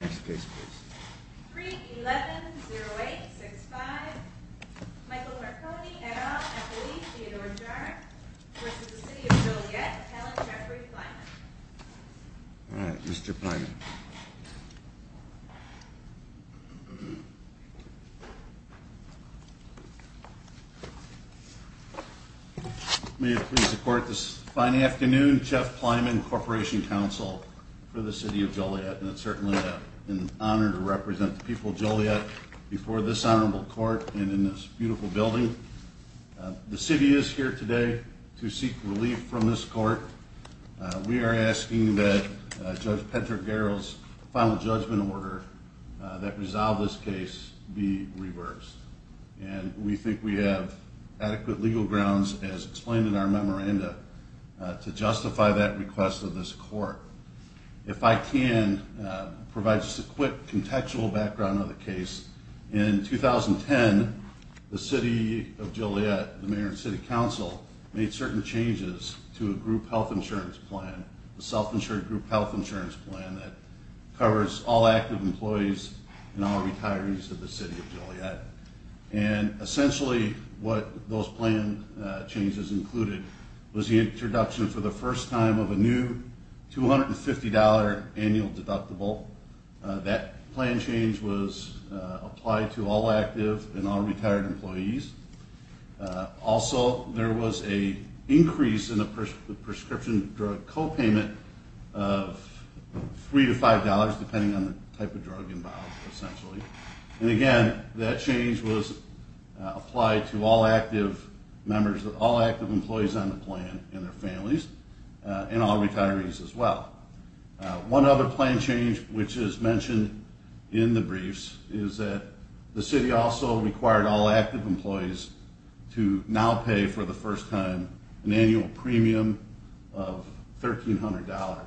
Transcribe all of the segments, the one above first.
Next case please. 3-11-0-8-6-5. Michael Marconi, Adolph, Emily, Theodore Jarre, v. City of Joliet, Alan Jeffrey Plyman Alright, Mr. Plyman May it please the court, this fine afternoon, Jeff Plyman, Corporation Counsel for the City of Joliet and it's certainly an honor to represent the people of Joliet before this honorable court and in this beautiful building. The city is here today to seek relief from this court. We are asking that Judge Patrick Garrell's final judgment order that resolved this case be reversed. And we think we have adequate legal grounds as explained in our memoranda to justify that request of this court. If I can provide just a quick contextual background on the case. In 2010, the City of Joliet, the Mayor and City Council made certain changes to a group health insurance plan, a self-insured group health insurance plan that covers all active employees and all retirees of the City of Joliet. And essentially what those plan changes included was the introduction for the first time of a new $250 annual deductible. That plan change was applied to all active and all retired employees. Also, there was an increase in the prescription drug co-payment of $3-5 depending on the type of drug involved, essentially. And again, that change was applied to all active employees on the plan and their families and all retirees as well. One other plan change which is mentioned in the briefs is that the City also required all active employees to now pay for the first time an annual premium of $1,300.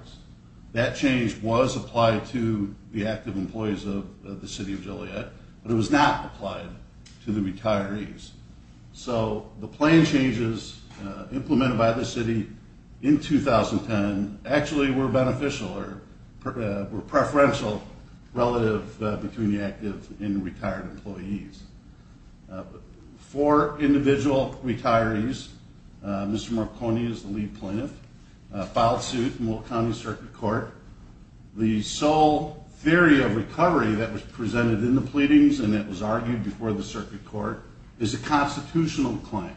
That change was applied to the active employees of the City of Joliet, but it was not applied to the retirees. So the plan changes implemented by the City in 2010 actually were beneficial or were preferential relative between the active and retired employees. For individual retirees, Mr. Marconi is the lead plaintiff, filed suit in Will County Circuit Court. The sole theory of recovery that was presented in the pleadings and that was argued before the Circuit Court is a constitutional claim.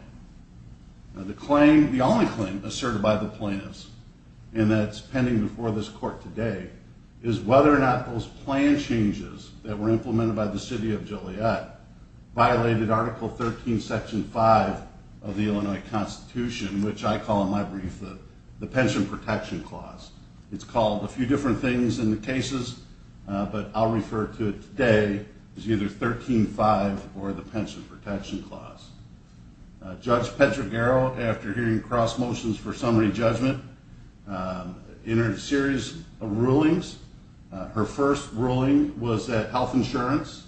The only claim asserted by the plaintiffs and that's pending before this Court today is whether or not those plan changes that were implemented by the City of Joliet violated Article 13, Section 5 of the Illinois Constitution, which I call in my brief the Pension Protection Clause. It's called a few different things in the cases, but I'll refer to it today as either 13-5 or the Pension Protection Clause. Judge Petra Garrow, after hearing cross motions for summary judgment, entered a series of rulings. Her first ruling was that health insurance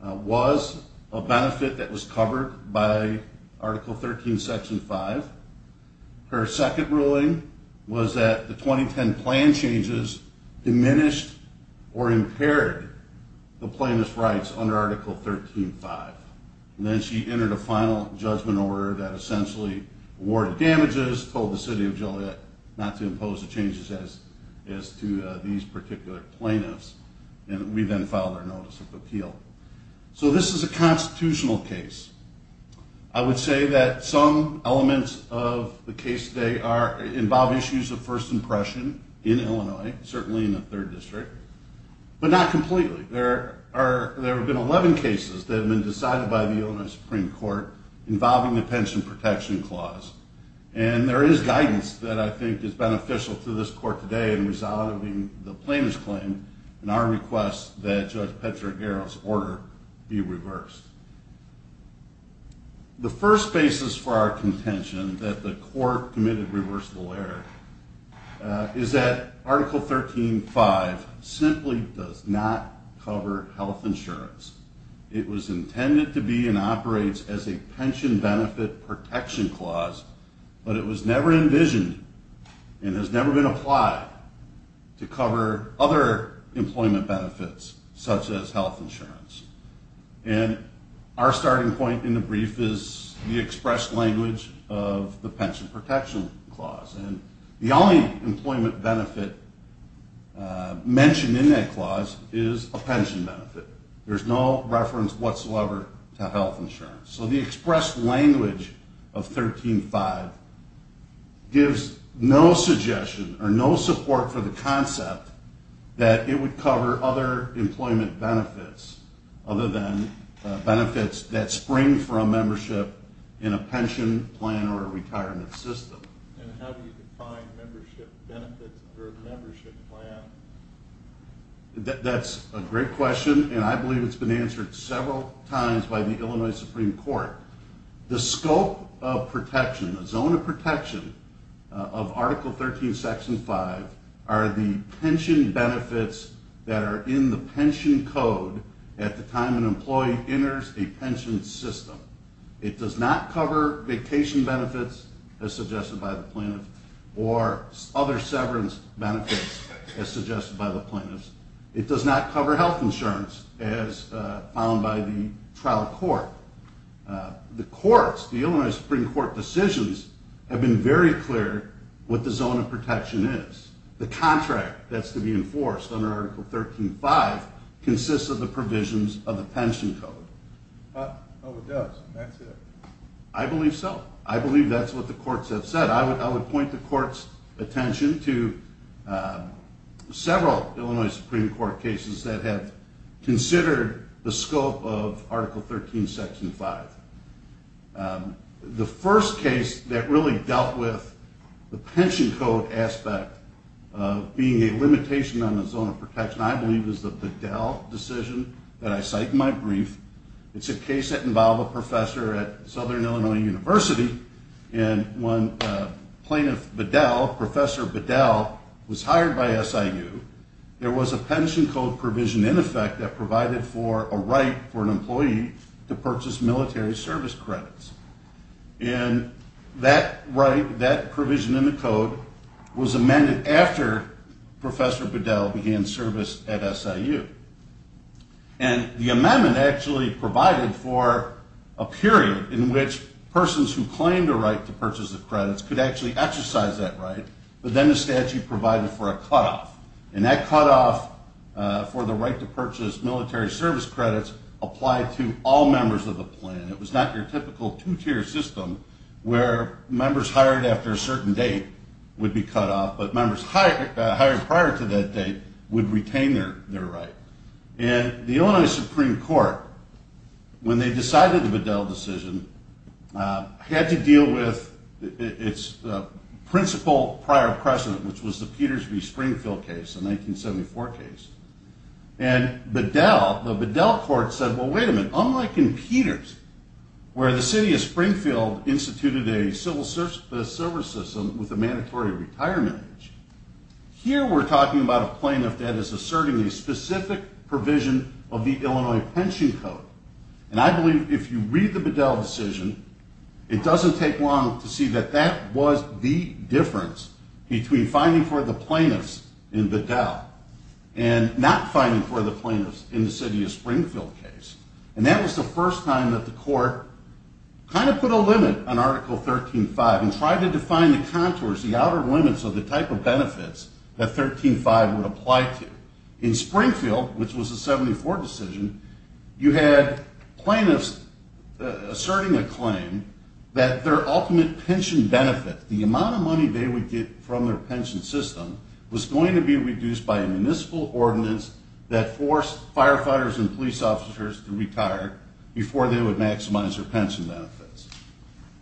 was a benefit that was covered by Article 13, Section 5. Her second ruling was that the 2010 plan changes diminished or impaired the plaintiff's rights under Article 13, 5. And then she entered a final judgment order that essentially awarded damages, told the City of Joliet not to impose the changes as to these particular plaintiffs. And we then filed our Notice of Appeal. So this is a constitutional case. I would say that some elements of the case today involve issues of first impression in Illinois, certainly in the 3rd District, but not completely. There have been 11 cases that have been decided by the Illinois Supreme Court involving the Pension Protection Clause. And there is guidance that I think is beneficial to this Court today in resolving the plaintiff's claim and our request that Judge Petra Garrow's order be reversed. The first basis for our contention that the Court committed reversible error is that Article 13, 5 simply does not cover health insurance. It was intended to be and operates as a pension benefit protection clause, but it was never envisioned and has never been applied to cover other employment benefits, such as health insurance. And our starting point in the brief is the express language of the Pension Protection Clause. And the only employment benefit mentioned in that clause is a pension benefit. There's no reference whatsoever to health insurance. So the expressed language of 13, 5 gives no suggestion or no support for the concept that it would cover other employment benefits other than benefits that spring from membership in a pension plan or a retirement system. And how do you define membership benefits or a membership plan? That's a great question, and I believe it's been answered several times by the Illinois Supreme Court. The scope of protection, the zone of protection of Article 13, Section 5 are the pension benefits that are in the pension code at the time an employee enters a pension system. It does not cover vacation benefits as suggested by the plaintiff or other severance benefits as suggested by the plaintiffs. It does not cover health insurance as found by the trial court. The courts, the Illinois Supreme Court decisions have been very clear what the zone of protection is. The contract that's to be enforced under Article 13, 5 consists of the provisions of the pension code. Oh, it does. That's it. I believe so. I believe that's what the courts have said. I would point the court's attention to several Illinois Supreme Court cases that have considered the scope of Article 13, Section 5. The first case that really dealt with the pension code aspect of being a limitation on the zone of protection, I believe, is the Bedell decision that I cite in my brief. It's a case that involved a professor at Southern Illinois University, and when Plaintiff Bedell, Professor Bedell, was hired by SIU, there was a pension code provision in effect that provided for a right for an employee to purchase military service credits. And that right, that provision in the code, was amended after Professor Bedell began service at SIU. And the amendment actually provided for a period in which persons who claimed a right to purchase the credits could actually exercise that right, but then the statute provided for a cutoff, and that cutoff for the right to purchase military service credits applied to all members of the plan. It was not your typical two-tier system where members hired after a certain date would be cut off, but members hired prior to that date would retain their right. And the Illinois Supreme Court, when they decided the Bedell decision, had to deal with its principal prior precedent, which was the Peters v. Springfield case, the 1974 case. And Bedell, the Bedell court said, well, wait a minute, unlike in Peters, where the city of Springfield instituted a civil service system with a mandatory retirement age, here we're talking about a plaintiff that is asserting a specific provision of the Illinois pension code. And I believe if you read the Bedell decision, it doesn't take long to see that that was the difference between finding for the plaintiffs in Bedell and not finding for the plaintiffs in the city of Springfield case. And that was the first time that the court kind of put a limit on Article 13.5 and tried to define the contours, the outer limits of the type of benefits that 13.5 would apply to. In Springfield, which was a 74 decision, you had plaintiffs asserting a claim that their ultimate pension benefit, the amount of money they would get from their pension system, was going to be reduced by a municipal ordinance that forced firefighters and police officers to retire before they would maximize their pension benefits.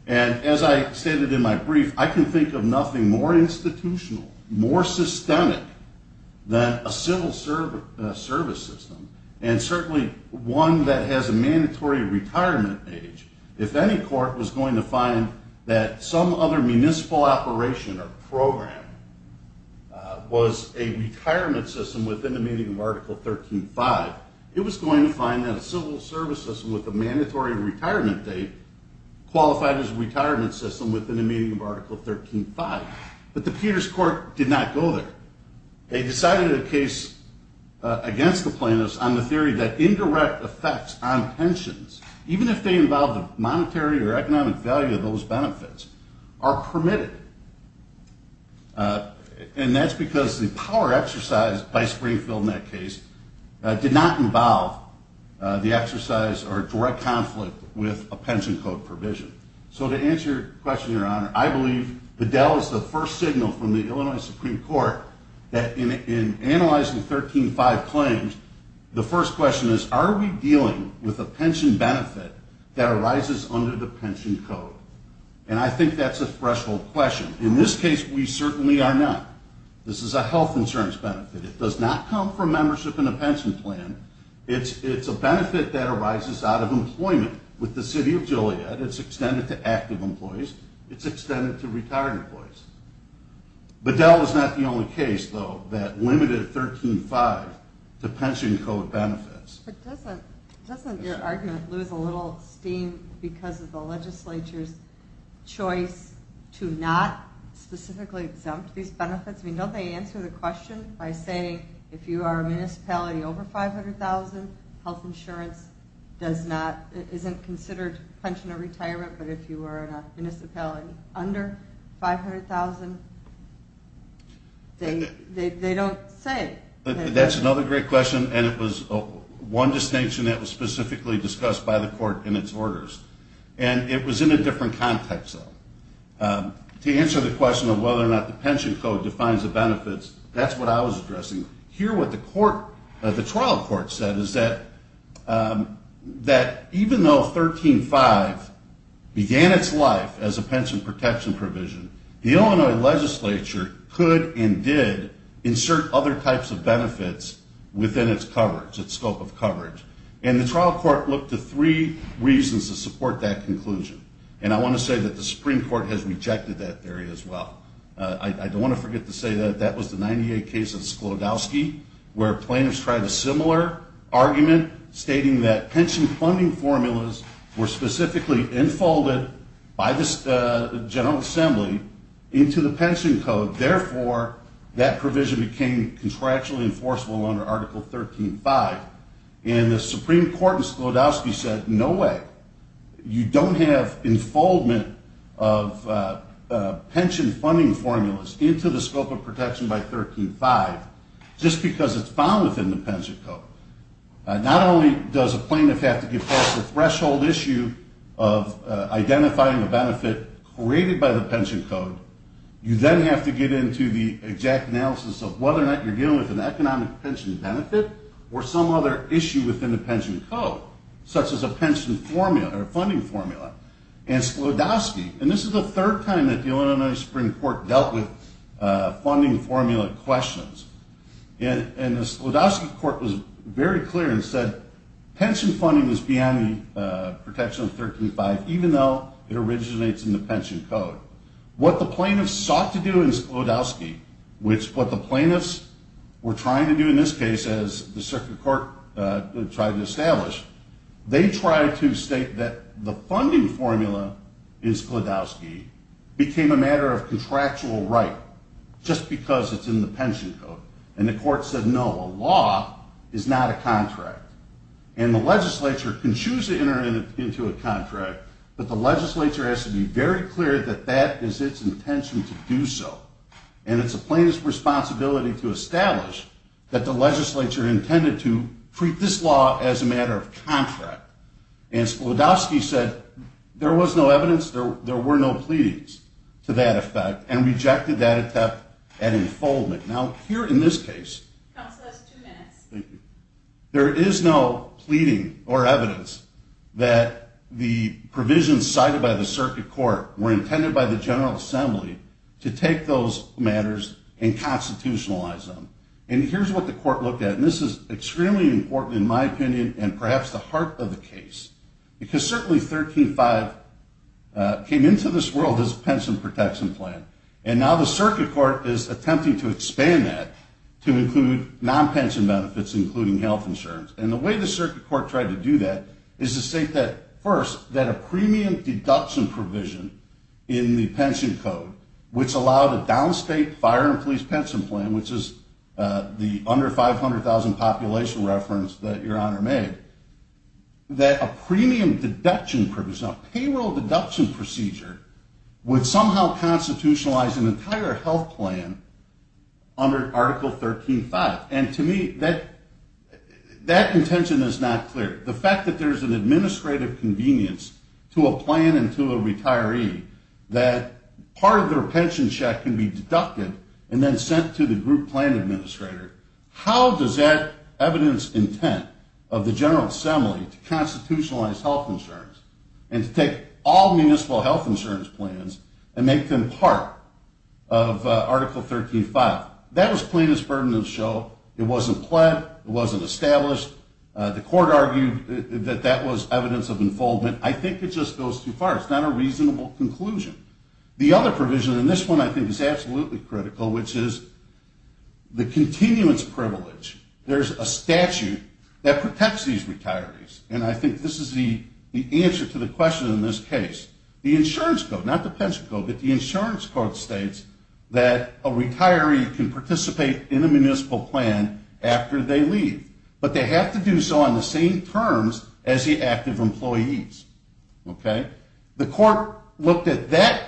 And as I stated in my brief, I can think of nothing more institutional, more systemic than a civil service system, and certainly one that has a mandatory retirement age. If any court was going to find that some other municipal operation or program was a retirement system within the meaning of Article 13.5, it was going to find that a civil service system with a mandatory retirement date qualified as a retirement system within the meaning of Article 13.5. But the Peters court did not go there. They decided a case against the plaintiffs on the theory that indirect effects on pensions, even if they involve the monetary or economic value of those benefits, are permitted. And that's because the power exercised by Springfield in that case did not involve the exercise or direct conflict with a pension code provision. So to answer your question, Your Honor, I believe Bedell is the first signal from the Illinois Supreme Court that in analyzing 13.5 claims, the first question is, are we dealing with a pension benefit that arises under the pension code? And I think that's a threshold question. In this case, we certainly are not. This is a health insurance benefit. It does not come from membership in a pension plan. It's a benefit that arises out of employment with the city of Joliet. It's extended to active employees. It's extended to retired employees. Bedell is not the only case, though, that limited 13.5 to pension code benefits. But doesn't your argument lose a little steam because of the legislature's choice to not specifically exempt these benefits? I mean, don't they answer the question by saying if you are a municipality over $500,000, health insurance doesn't consider pension or retirement, but if you are in a municipality under $500,000, they don't say it. That's another great question, and it was one distinction that was specifically discussed by the court in its orders. And it was in a different context, though. To answer the question of whether or not the pension code defines the benefits, that's what I was addressing. Here what the trial court said is that even though 13.5 began its life as a pension protection provision, the Illinois legislature could and did insert other types of benefits within its scope of coverage. And the trial court looked to three reasons to support that conclusion. And I want to say that the Supreme Court has rejected that theory as well. I don't want to forget to say that that was the 98 case of Sklodowsky where plaintiffs tried a similar argument stating that pension funding formulas were specifically enfolded by the General Assembly into the pension code. Therefore, that provision became contractually enforceable under Article 13.5. And the Supreme Court in Sklodowsky said, no way. You don't have enfoldment of pension funding formulas into the scope of protection by 13.5 just because it's found within the pension code. Not only does a plaintiff have to get past the threshold issue of identifying a benefit created by the pension code, you then have to get into the exact analysis of whether or not you're dealing with an economic pension benefit or some other issue within the pension code, such as a pension formula or a funding formula. And Sklodowsky, and this is the third time that the Illinois Supreme Court dealt with funding formula questions. And the Sklodowsky court was very clear and said pension funding was beyond the protection of 13.5 even though it originates in the pension code. What the plaintiffs sought to do in Sklodowsky, which what the plaintiffs were trying to do in this case as the circuit court tried to establish, they tried to state that the funding formula in Sklodowsky became a matter of contractual right just because it's in the pension code. And the court said, no, a law is not a contract. And the legislature can choose to enter into a contract, but the legislature has to be very clear that that is its intention to do so. And it's the plaintiff's responsibility to establish that the legislature intended to treat this law as a matter of contract. And Sklodowsky said there was no evidence, there were no pleadings to that effect and rejected that attempt at enfoldment. Now here in this case, there is no pleading or evidence that the provisions cited by the circuit court were intended by the General Assembly to take those matters and constitutionalize them. And here's what the court looked at, and this is extremely important in my opinion and perhaps the heart of the case. Because certainly 13.5 came into this world as a pension protection plan. And now the circuit court is attempting to expand that to include non-pension benefits, including health insurance. And the way the circuit court tried to do that is to state that, first, that a premium deduction provision in the pension code, which allowed a downstate fire and police pension plan, which is the under 500,000 population reference that Your Honor made, that a premium deduction provision, a payroll deduction procedure, would somehow constitutionalize an entire health plan under Article 13.5. And to me, that intention is not clear. The fact that there is an administrative convenience to a plan and to a retiree that part of their pension check can be deducted and then sent to the group plan administrator, how does that evidence intent of the General Assembly to constitutionalize health insurance and to take all municipal health insurance plans and make them part of Article 13.5? That was plaintiff's burden to show. It wasn't pled. It wasn't established. The court argued that that was evidence of enfoldment. I think it just goes too far. It's not a reasonable conclusion. The other provision, and this one I think is absolutely critical, which is the continuance privilege. There's a statute that protects these retirees, and I think this is the answer to the question in this case. The insurance code, not the pension code, but the insurance code states that a retiree can participate in a municipal plan after they leave, but they have to do so on the same terms as the active employees, okay? The court looked at that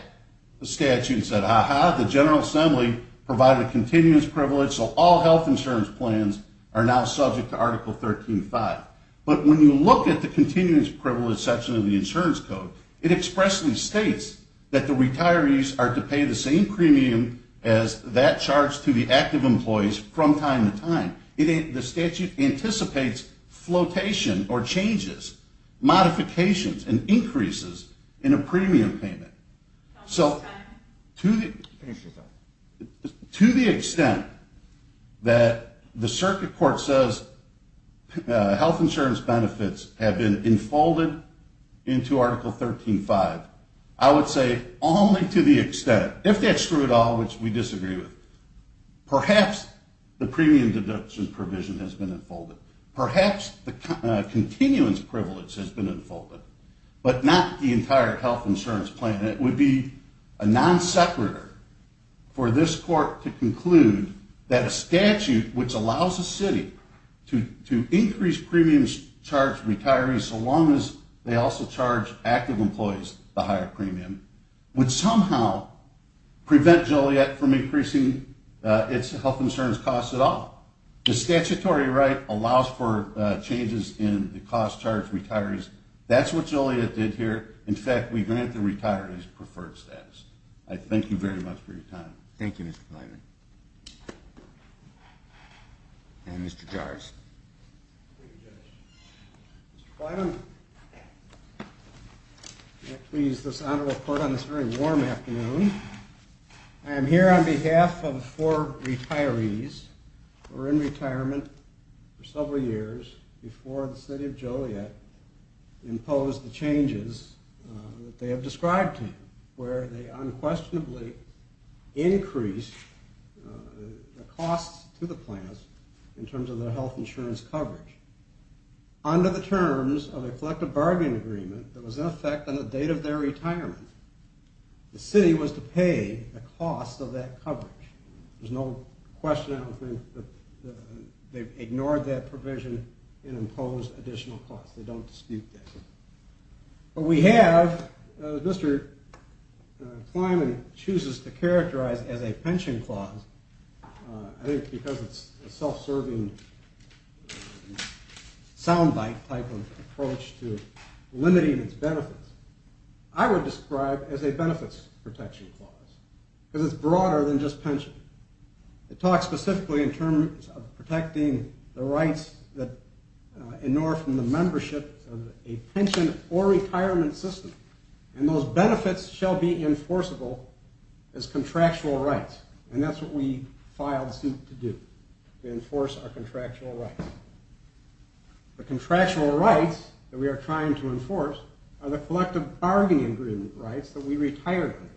statute and said, aha, the General Assembly provided continuance privilege, so all health insurance plans are now subject to Article 13.5. But when you look at the continuance privilege section of the insurance code, it expressly states that the retirees are to pay the same premium as that charged to the active employees from time to time. The statute anticipates flotation or changes, modifications, and increases in a premium payment. So to the extent that the circuit court says health insurance benefits have been enfolded into Article 13.5, I would say only to the extent, if that's true at all, which we disagree with, perhaps the premium deduction provision has been enfolded. Perhaps the continuance privilege has been enfolded, but not the entire health insurance plan. It would be a non-separator for this court to conclude that a statute which allows a city to increase premiums charged to retirees so long as they also charge active employees the higher premium would somehow prevent Joliet from increasing its health insurance costs at all. The statutory right allows for changes in the cost charged to retirees. That's what Joliet did here. In fact, we grant the retirees preferred status. I thank you very much for your time. Thank you, Mr. Bliner. And Mr. Jars. Thank you, Judge. Mr. Bliner, may I please this honor report on this very warm afternoon? I am here on behalf of four retirees who were in retirement for several years before the city of Joliet imposed the changes that they have described to you, where they unquestionably increased the costs to the plans in terms of their health insurance coverage under the terms of a collective bargaining agreement that was in effect on the date of their retirement. The city was to pay the cost of that coverage. There's no question I don't think that they've ignored that provision and imposed additional costs. They don't dispute that. What we have, as Mr. Kleinman chooses to characterize as a pension clause, I think because it's a self-serving soundbite type of approach to limiting its benefits, I would describe as a benefits protection clause because it's broader than just pension. It talks specifically in terms of protecting the rights that ignore from the membership of a pension or retirement system. And those benefits shall be enforceable as contractual rights. And that's what we filed suit to do, to enforce our contractual rights. The contractual rights that we are trying to enforce are the collective bargaining agreement rights that we retired under.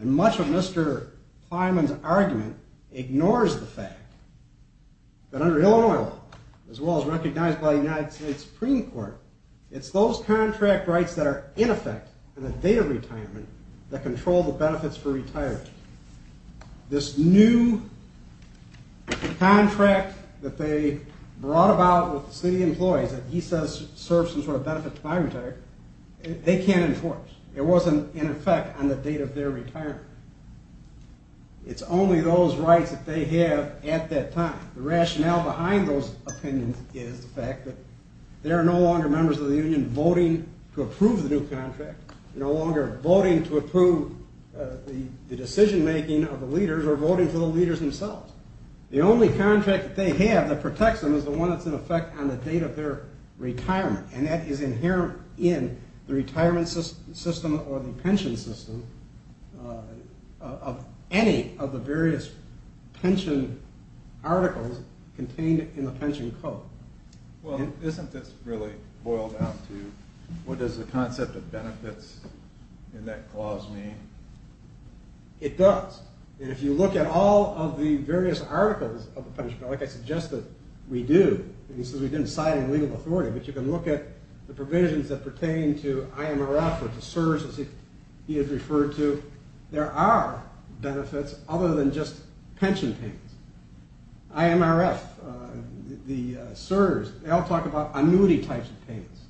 And much of Mr. Kleinman's argument ignores the fact that under Illinois law, as well as recognized by the United States Supreme Court, it's those contract rights that are in effect on the date of retirement that control the benefits for retirees. This new contract that they brought about with the city employees that he says serves some sort of benefit to my retiree, they can't enforce. It wasn't in effect on the date of their retirement. It's only those rights that they have at that time. The rationale behind those opinions is the fact that they are no longer members of the union voting to approve the new contract, no longer voting to approve the decision-making of the leaders or voting for the leaders themselves. The only contract that they have that protects them is the one that's in effect on the date of their retirement, and that is inherent in the retirement system or the pension system of any of the various pension articles contained in the pension code. Well, isn't this really boiled down to what does the concept of benefits in that clause mean? It does. And if you look at all of the various articles of the pension code, like I suggested we do, and he says we didn't cite any legal authority, but you can look at the provisions that pertain to IMRF or to CSRS, as he has referred to, there are benefits other than just pension payments. IMRF, the CSRS, they all talk about annuity types of payments.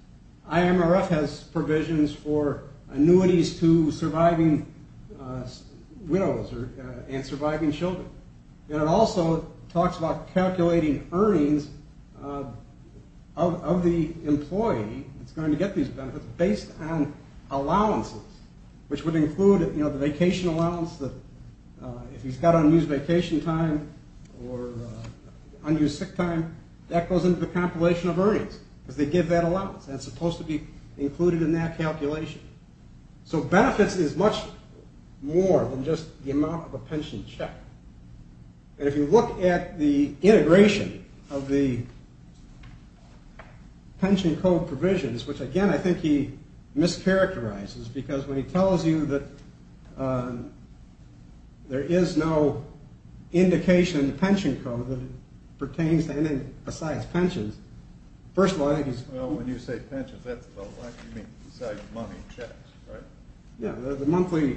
IMRF has provisions for annuities to surviving widows and surviving children. And it also talks about calculating earnings of the employee that's going to get these benefits based on allowances, which would include the vacation allowance that if he's got unused vacation time or unused sick time, that goes into the compilation of earnings because they give that allowance, and it's supposed to be included in that calculation. So benefits is much more than just the amount of a pension check. And if you look at the integration of the pension code provisions, which, again, I think he mischaracterizes, because when he tells you that there is no indication in the pension code that it pertains to anything besides pensions, Well, when you say pensions, you mean besides money checks, right? Yeah, the monthly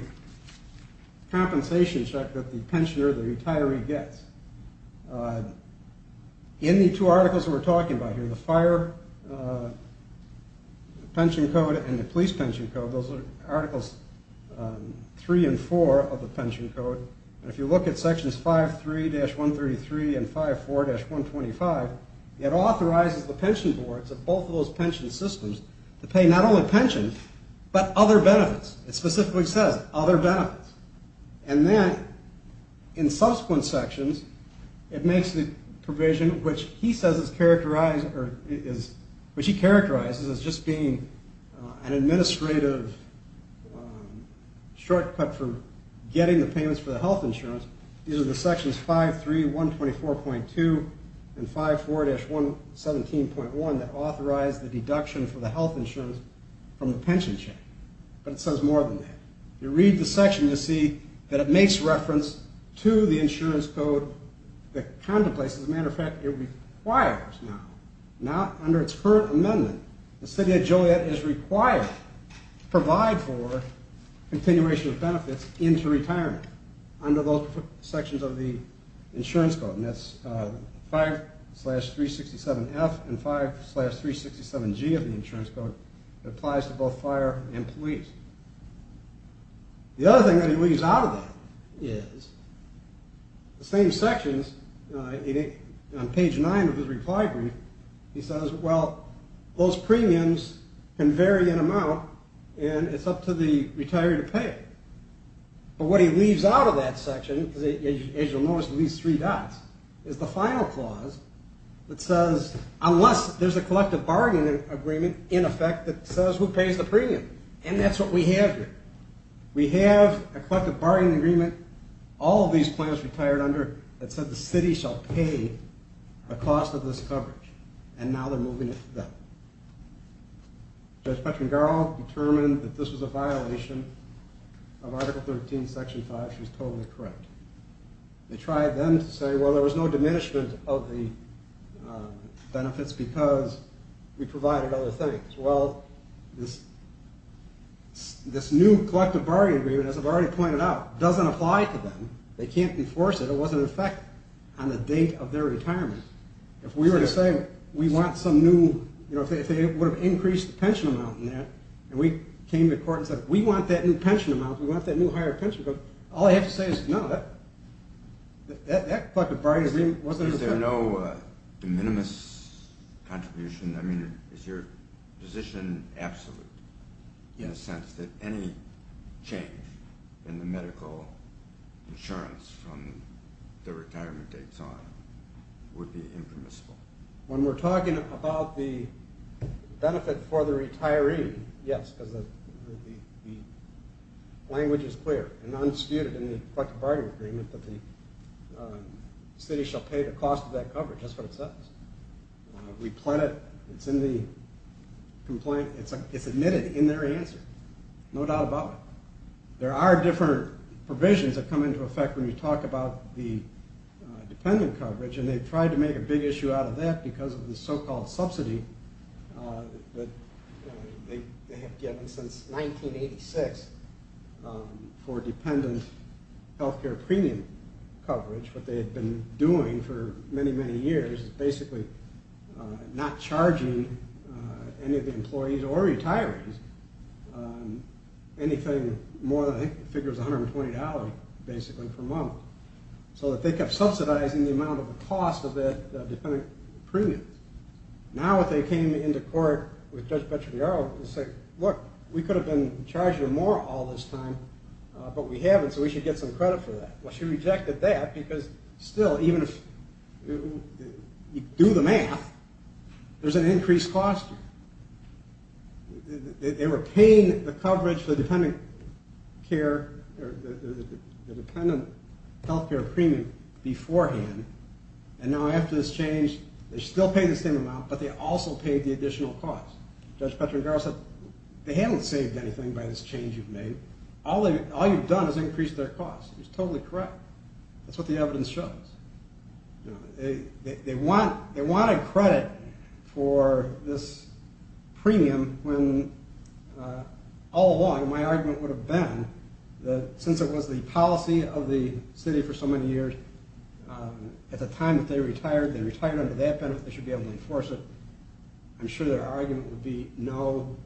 compensation check that the pensioner, the retiree, gets. In the two articles that we're talking about here, the fire pension code and the police pension code, those are Articles 3 and 4 of the pension code. And if you look at Sections 5.3-133 and 5.4-125, it authorizes the pension boards of both of those pension systems to pay not only pension, but other benefits. It specifically says other benefits. And then in subsequent sections, it makes the provision, which he says is characterized or is, which he characterizes as just being an administrative shortcut for getting the payments for the health insurance. These are the Sections 5.3-124.2 and 5.4-117.1 that authorize the deduction for the health insurance from the pension check. But it says more than that. If you read the section, you'll see that it makes reference to the insurance code that contemplates. As a matter of fact, it requires now, not under its current amendment, the city of Joliet is required to provide for continuation of benefits into retirement under those sections of the insurance code. And that's 5.3-367F and 5.3-367G of the insurance code that applies to both fire and police. The other thing that he leaves out of that is the same sections, on page 9 of his reply brief, he says, well, those premiums can vary in amount, and it's up to the retiree to pay it. But what he leaves out of that section, as you'll notice with these three dots, is the final clause that says, unless there's a collective bargaining agreement in effect that says who pays the premium. And that's what we have here. We have a collective bargaining agreement all of these plans retired under that said the city shall pay the cost of this coverage. And now they're moving it to them. Judge Pettengerl determined that this was a violation of Article 13, Section 5. She was totally correct. They tried then to say, well, there was no diminishment of the benefits because we provided other things. Well, this new collective bargaining agreement, as I've already pointed out, doesn't apply to them. They can't enforce it. It wasn't in effect on the date of their retirement. If we were to say we want some new, you know, if they would have increased the pension amount in that, and we came to court and said we want that new pension amount, we want that new higher pension, all they have to say is no, that collective bargaining agreement wasn't in effect. Is there no de minimis contribution? I mean, is your position absolute in the sense that any change in the medical insurance from the retirement dates on would be impermissible? When we're talking about the benefit for the retiree, yes, because the language is clear in the collective bargaining agreement that the city shall pay the cost of that coverage. That's what it says. We plan it. It's in the complaint. It's admitted in their answer. No doubt about it. There are different provisions that come into effect when you talk about the dependent coverage, and they tried to make a big issue out of that because of the so-called subsidy that they have given since 1986 for dependent health care premium coverage. What they had been doing for many, many years is basically not charging any of the employees or retirees anything more than, I think the figure was $120, basically, per month. So they kept subsidizing the amount of the cost of the dependent premiums. Now if they came into court with Judge Petrogliaro and said, look, we could have been charging them more all this time, but we haven't, so we should get some credit for that. Well, she rejected that because still, even if you do the math, there's an increased cost here. They were paying the coverage for the dependent health care premium beforehand, and now after this change, they're still paying the same amount, but they also paid the additional cost. Judge Petrogliaro said, they haven't saved anything by this change you've made. All you've done is increased their cost. It was totally correct. That's what the evidence shows. They wanted credit for this premium when all along my argument would have been that since it was the policy of the city for so many years, at the time that they retired, they retired under that benefit. They should be able to enforce it. I'm sure their argument would be no.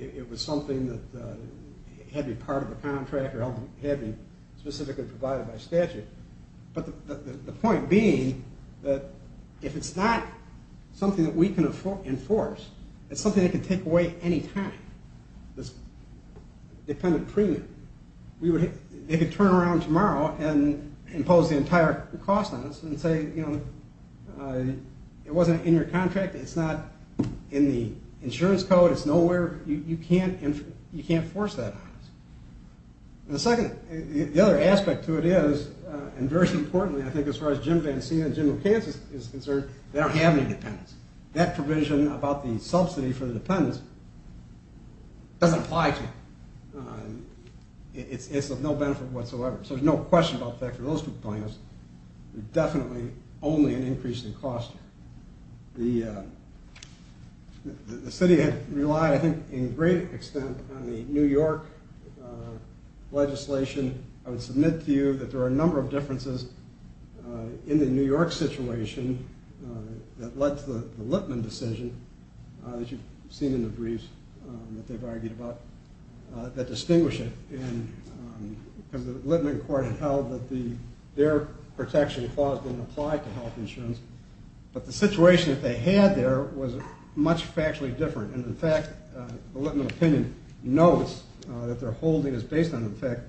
It was something that had to be part of the contract or had to be specifically provided by statute. But the point being that if it's not something that we can enforce, it's something they can take away any time, this dependent premium, they could turn around tomorrow and impose the entire cost on us and say it wasn't in your contract, it's not in the insurance code, it's nowhere. You can't force that on us. The other aspect to it is, and very importantly, I think as far as Jim Vancea and General Kansas is concerned, they don't have any dependents. That provision about the subsidy for the dependents doesn't apply to them. It's of no benefit whatsoever. So there's no question about that for those two plaintiffs. Definitely only an increase in cost. The city had relied, I think, in great extent on the New York legislation. I would submit to you that there are a number of differences in the New York situation that led to the Lippman decision that you've seen in the briefs that they've argued about that distinguish it. And the Lippman court held that their protection clause didn't apply to health insurance, but the situation that they had there was much factually different. And, in fact, the Lippman opinion notes that their holding is based on the fact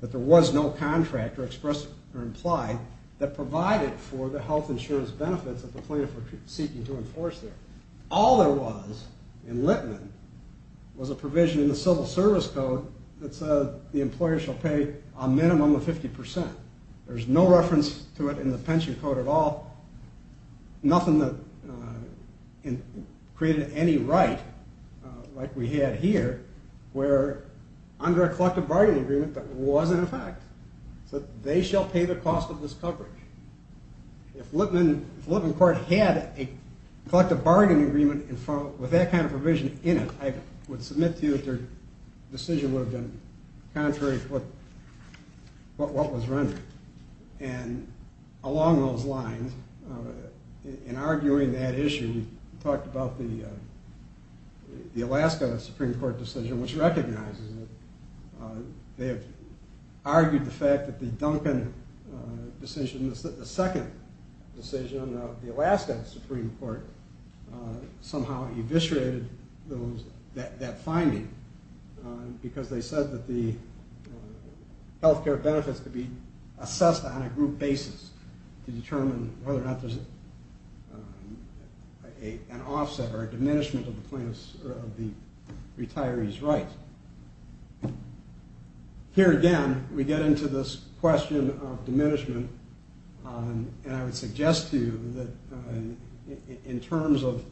that there was no contract expressed or implied that provided for the health insurance benefits that the plaintiffs were seeking to enforce there. All there was in Lippman was a provision in the civil service code that said the employer shall pay a minimum of 50%. There's no reference to it in the pension code at all. Nothing that created any right like we had here were under a collective bargaining agreement that was in effect. So they shall pay the cost of this coverage. If Lippman court had a collective bargaining agreement with that kind of provision in it, I would submit to you that their decision would have been contrary to what was rendered. And along those lines, in arguing that issue, we talked about the Alaska Supreme Court decision, which recognizes that they have argued the fact that the Duncan decision, the second decision of the Alaska Supreme Court, somehow eviscerated that finding because they said that the health care benefits could be assessed on a group basis to determine whether or not there's an offset or a diminishment of the retiree's rights. Here again, we get into this question of diminishment, and I would suggest to you that in terms of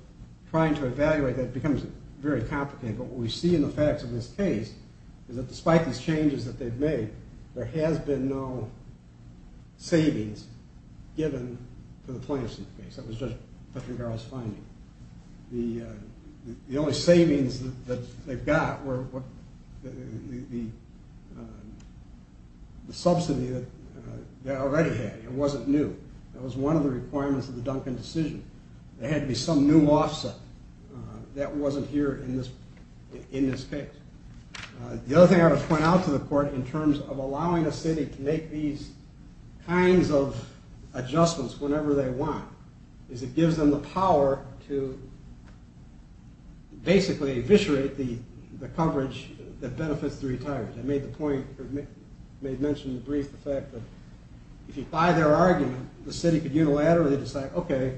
trying to evaluate that, it becomes very complicated, but what we see in the facts of this case is that despite these changes that they've made, there has been no savings given to the plaintiffs in this case. That was Judge Petringara's finding. The only savings that they've got were the subsidy that they already had. It wasn't new. That was one of the requirements of the Duncan decision. There had to be some new offset. That wasn't here in this case. The other thing I want to point out to the court in terms of allowing a city to make these kinds of adjustments whenever they want is it gives them the power to basically eviscerate the coverage that benefits the retirees. I made the point, I made mention in the brief, the fact that if you buy their argument, the city could unilaterally decide, okay,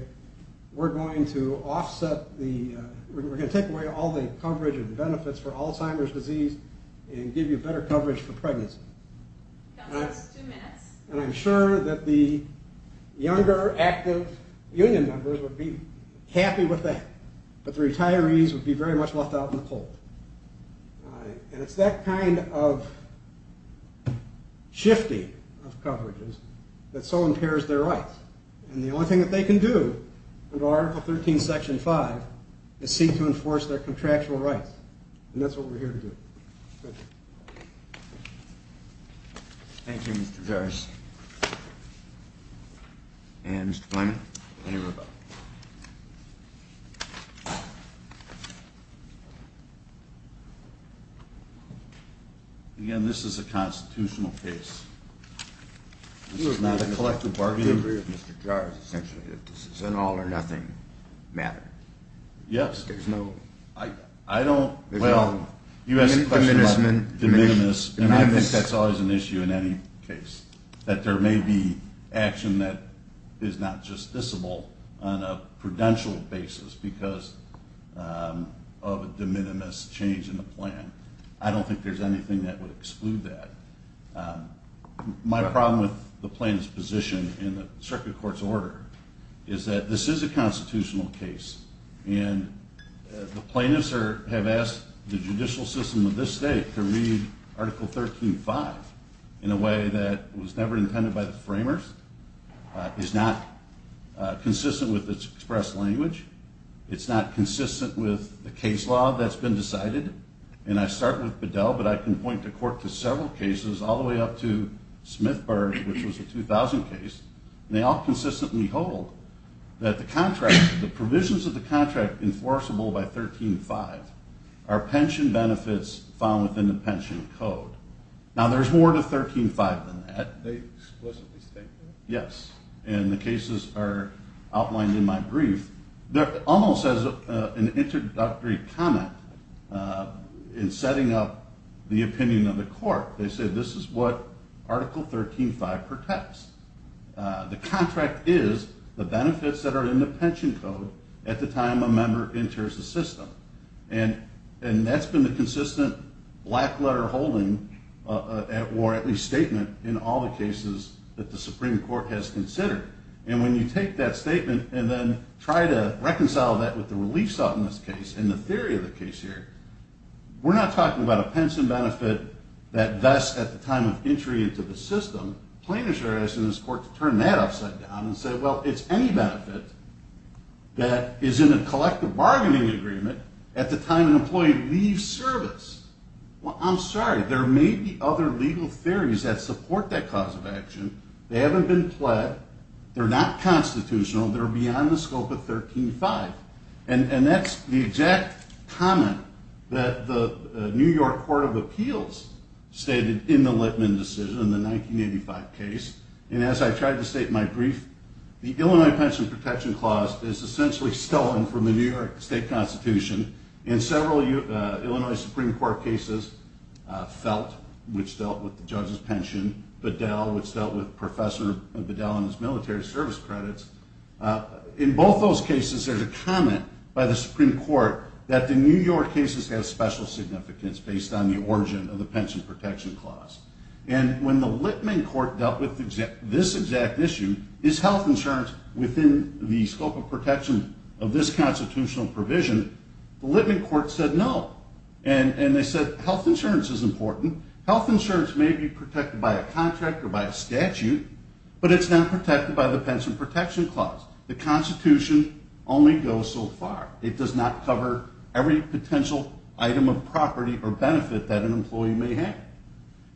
we're going to offset the, we're going to take away all the coverage and benefits for Alzheimer's disease and give you better coverage for pregnancy. I'm sure that the younger, active union members would be happy with that, but the retirees would be very much left out in the cold. It's that kind of shifting of coverages that so impairs their rights. And the only thing that they can do under Article 13, Section 5, is seek to enforce their contractual rights, and that's what we're here to do. Thank you. Thank you, Mr. Jarvis. And Mr. Blyman, any rebuttal? Again, this is a constitutional case. This is not a collective bargaining agreement, Mr. Jarvis, essentially that this is an all or nothing matter. Yes. There's no... I don't, well, you asked a question about de minimis, and I think that's always an issue in any case, that there may be action that is not justiciable on a prudential basis because of a de minimis change in the plan. I don't think there's anything that would exclude that. My problem with the plaintiff's position in the circuit court's order is that this is a constitutional case, and the plaintiffs have asked the judicial system of this state to read Article 13.5 in a way that was never intended by the framers, is not consistent with its express language, it's not consistent with the case law that's been decided, and I start with Bedell, but I can point the court to several cases, all the way up to Smithburg, which was a 2000 case, and they all consistently hold that the contract, the provisions of the contract enforceable by 13.5 are pension benefits found within the pension code. Now, there's more to 13.5 than that. They explicitly state that? Yes, and the cases are outlined in my brief. Almost as an introductory comment in setting up the opinion of the court, they said this is what Article 13.5 protects. The contract is the benefits that are in the pension code at the time a member enters the system, and that's been the consistent black-letter holding, or at least statement in all the cases that the Supreme Court has considered, and when you take that statement and then try to reconcile that with the relief sought in this case and the theory of the case here, we're not talking about a pension benefit that, thus, at the time of entry into the system, plaintiffs are asking this court to turn that upside down and say, well, it's any benefit that is in a collective bargaining agreement at the time an employee leaves service. Well, I'm sorry. There may be other legal theories that support that cause of action. They haven't been pled. They're not constitutional. They're beyond the scope of 13.5, and that's the exact comment that the New York Court of Appeals stated in the Litman decision, in the 1985 case, and as I tried to state in my brief, the Illinois Pension Protection Clause is essentially stolen from the New York State Constitution, and several Illinois Supreme Court cases, Felt, which dealt with the judge's pension, Bedell, which dealt with Professor Bedell and his military service credits. In both those cases, there's a comment by the Supreme Court that the New York cases have special significance based on the origin of the Pension Protection Clause, and when the Litman court dealt with this exact issue, is health insurance within the scope of protection of this constitutional provision, the Litman court said no, and they said health insurance is important. Health insurance may be protected by a contract or by a statute, but it's not protected by the Pension Protection Clause. The Constitution only goes so far. It does not cover every potential item of property or benefit that an employee may have,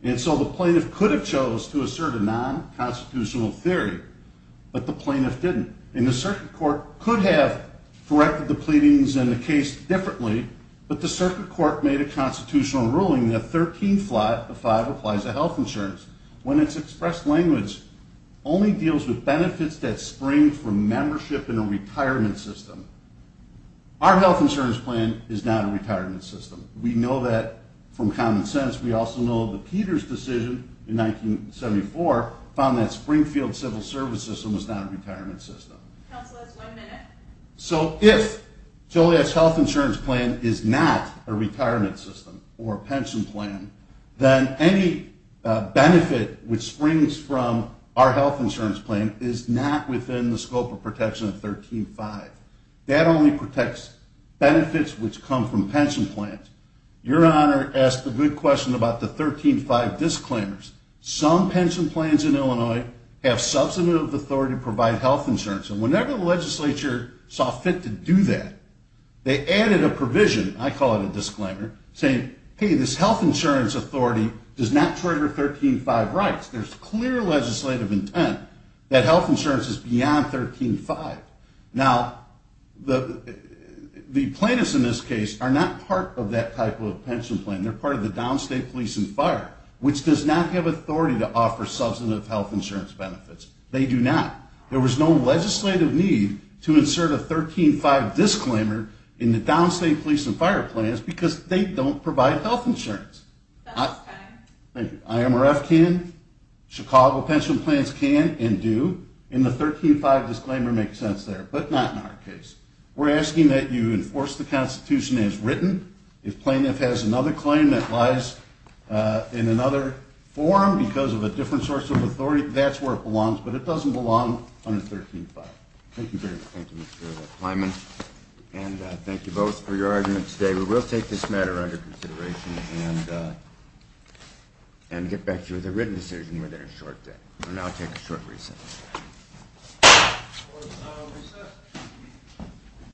and so the plaintiff could have chose to assert a non-constitutional theory, but the plaintiff didn't, and the circuit court could have directed the pleadings in the case differently, but the circuit court made a constitutional ruling that 13 flat of 5 applies to health insurance when it's expressed language only deals with benefits that spring from membership in a retirement system. Our health insurance plan is not a retirement system. We know that from common sense. We also know that Peter's decision in 1974 found that Springfield's civil service system was not a retirement system. Counselors, one minute. So if Joliet's health insurance plan is not a retirement system or a pension plan, then any benefit which springs from our health insurance plan is not within the scope of protection of 13-5. That only protects benefits which come from pension plans. Your Honor asked a good question about the 13-5 disclaimers. Some pension plans in Illinois have substantive authority to provide health insurance, and whenever the legislature saw fit to do that, they added a provision, I call it a disclaimer, saying, hey, this health insurance authority does not trigger 13-5 rights. There's clear legislative intent that health insurance is beyond 13-5. Now, the plaintiffs in this case are not part of that type of pension plan. They're part of the downstate police and fire, which does not have authority to offer substantive health insurance benefits. They do not. There was no legislative need to insert a 13-5 disclaimer in the downstate police and fire plans because they don't provide health insurance. IMRF can, Chicago pension plans can and do, and the 13-5 disclaimer makes sense there, but not in our case. We're asking that you enforce the Constitution as written. If plaintiff has another claim that lies in another forum because of a different source of authority, that's where it belongs, but it doesn't belong under 13-5. Thank you very much. Thank you, Mr. Kleinman, and thank you both for your arguments today. We will take this matter under consideration and get back to you with a written decision within a short day. We'll now take a short recess.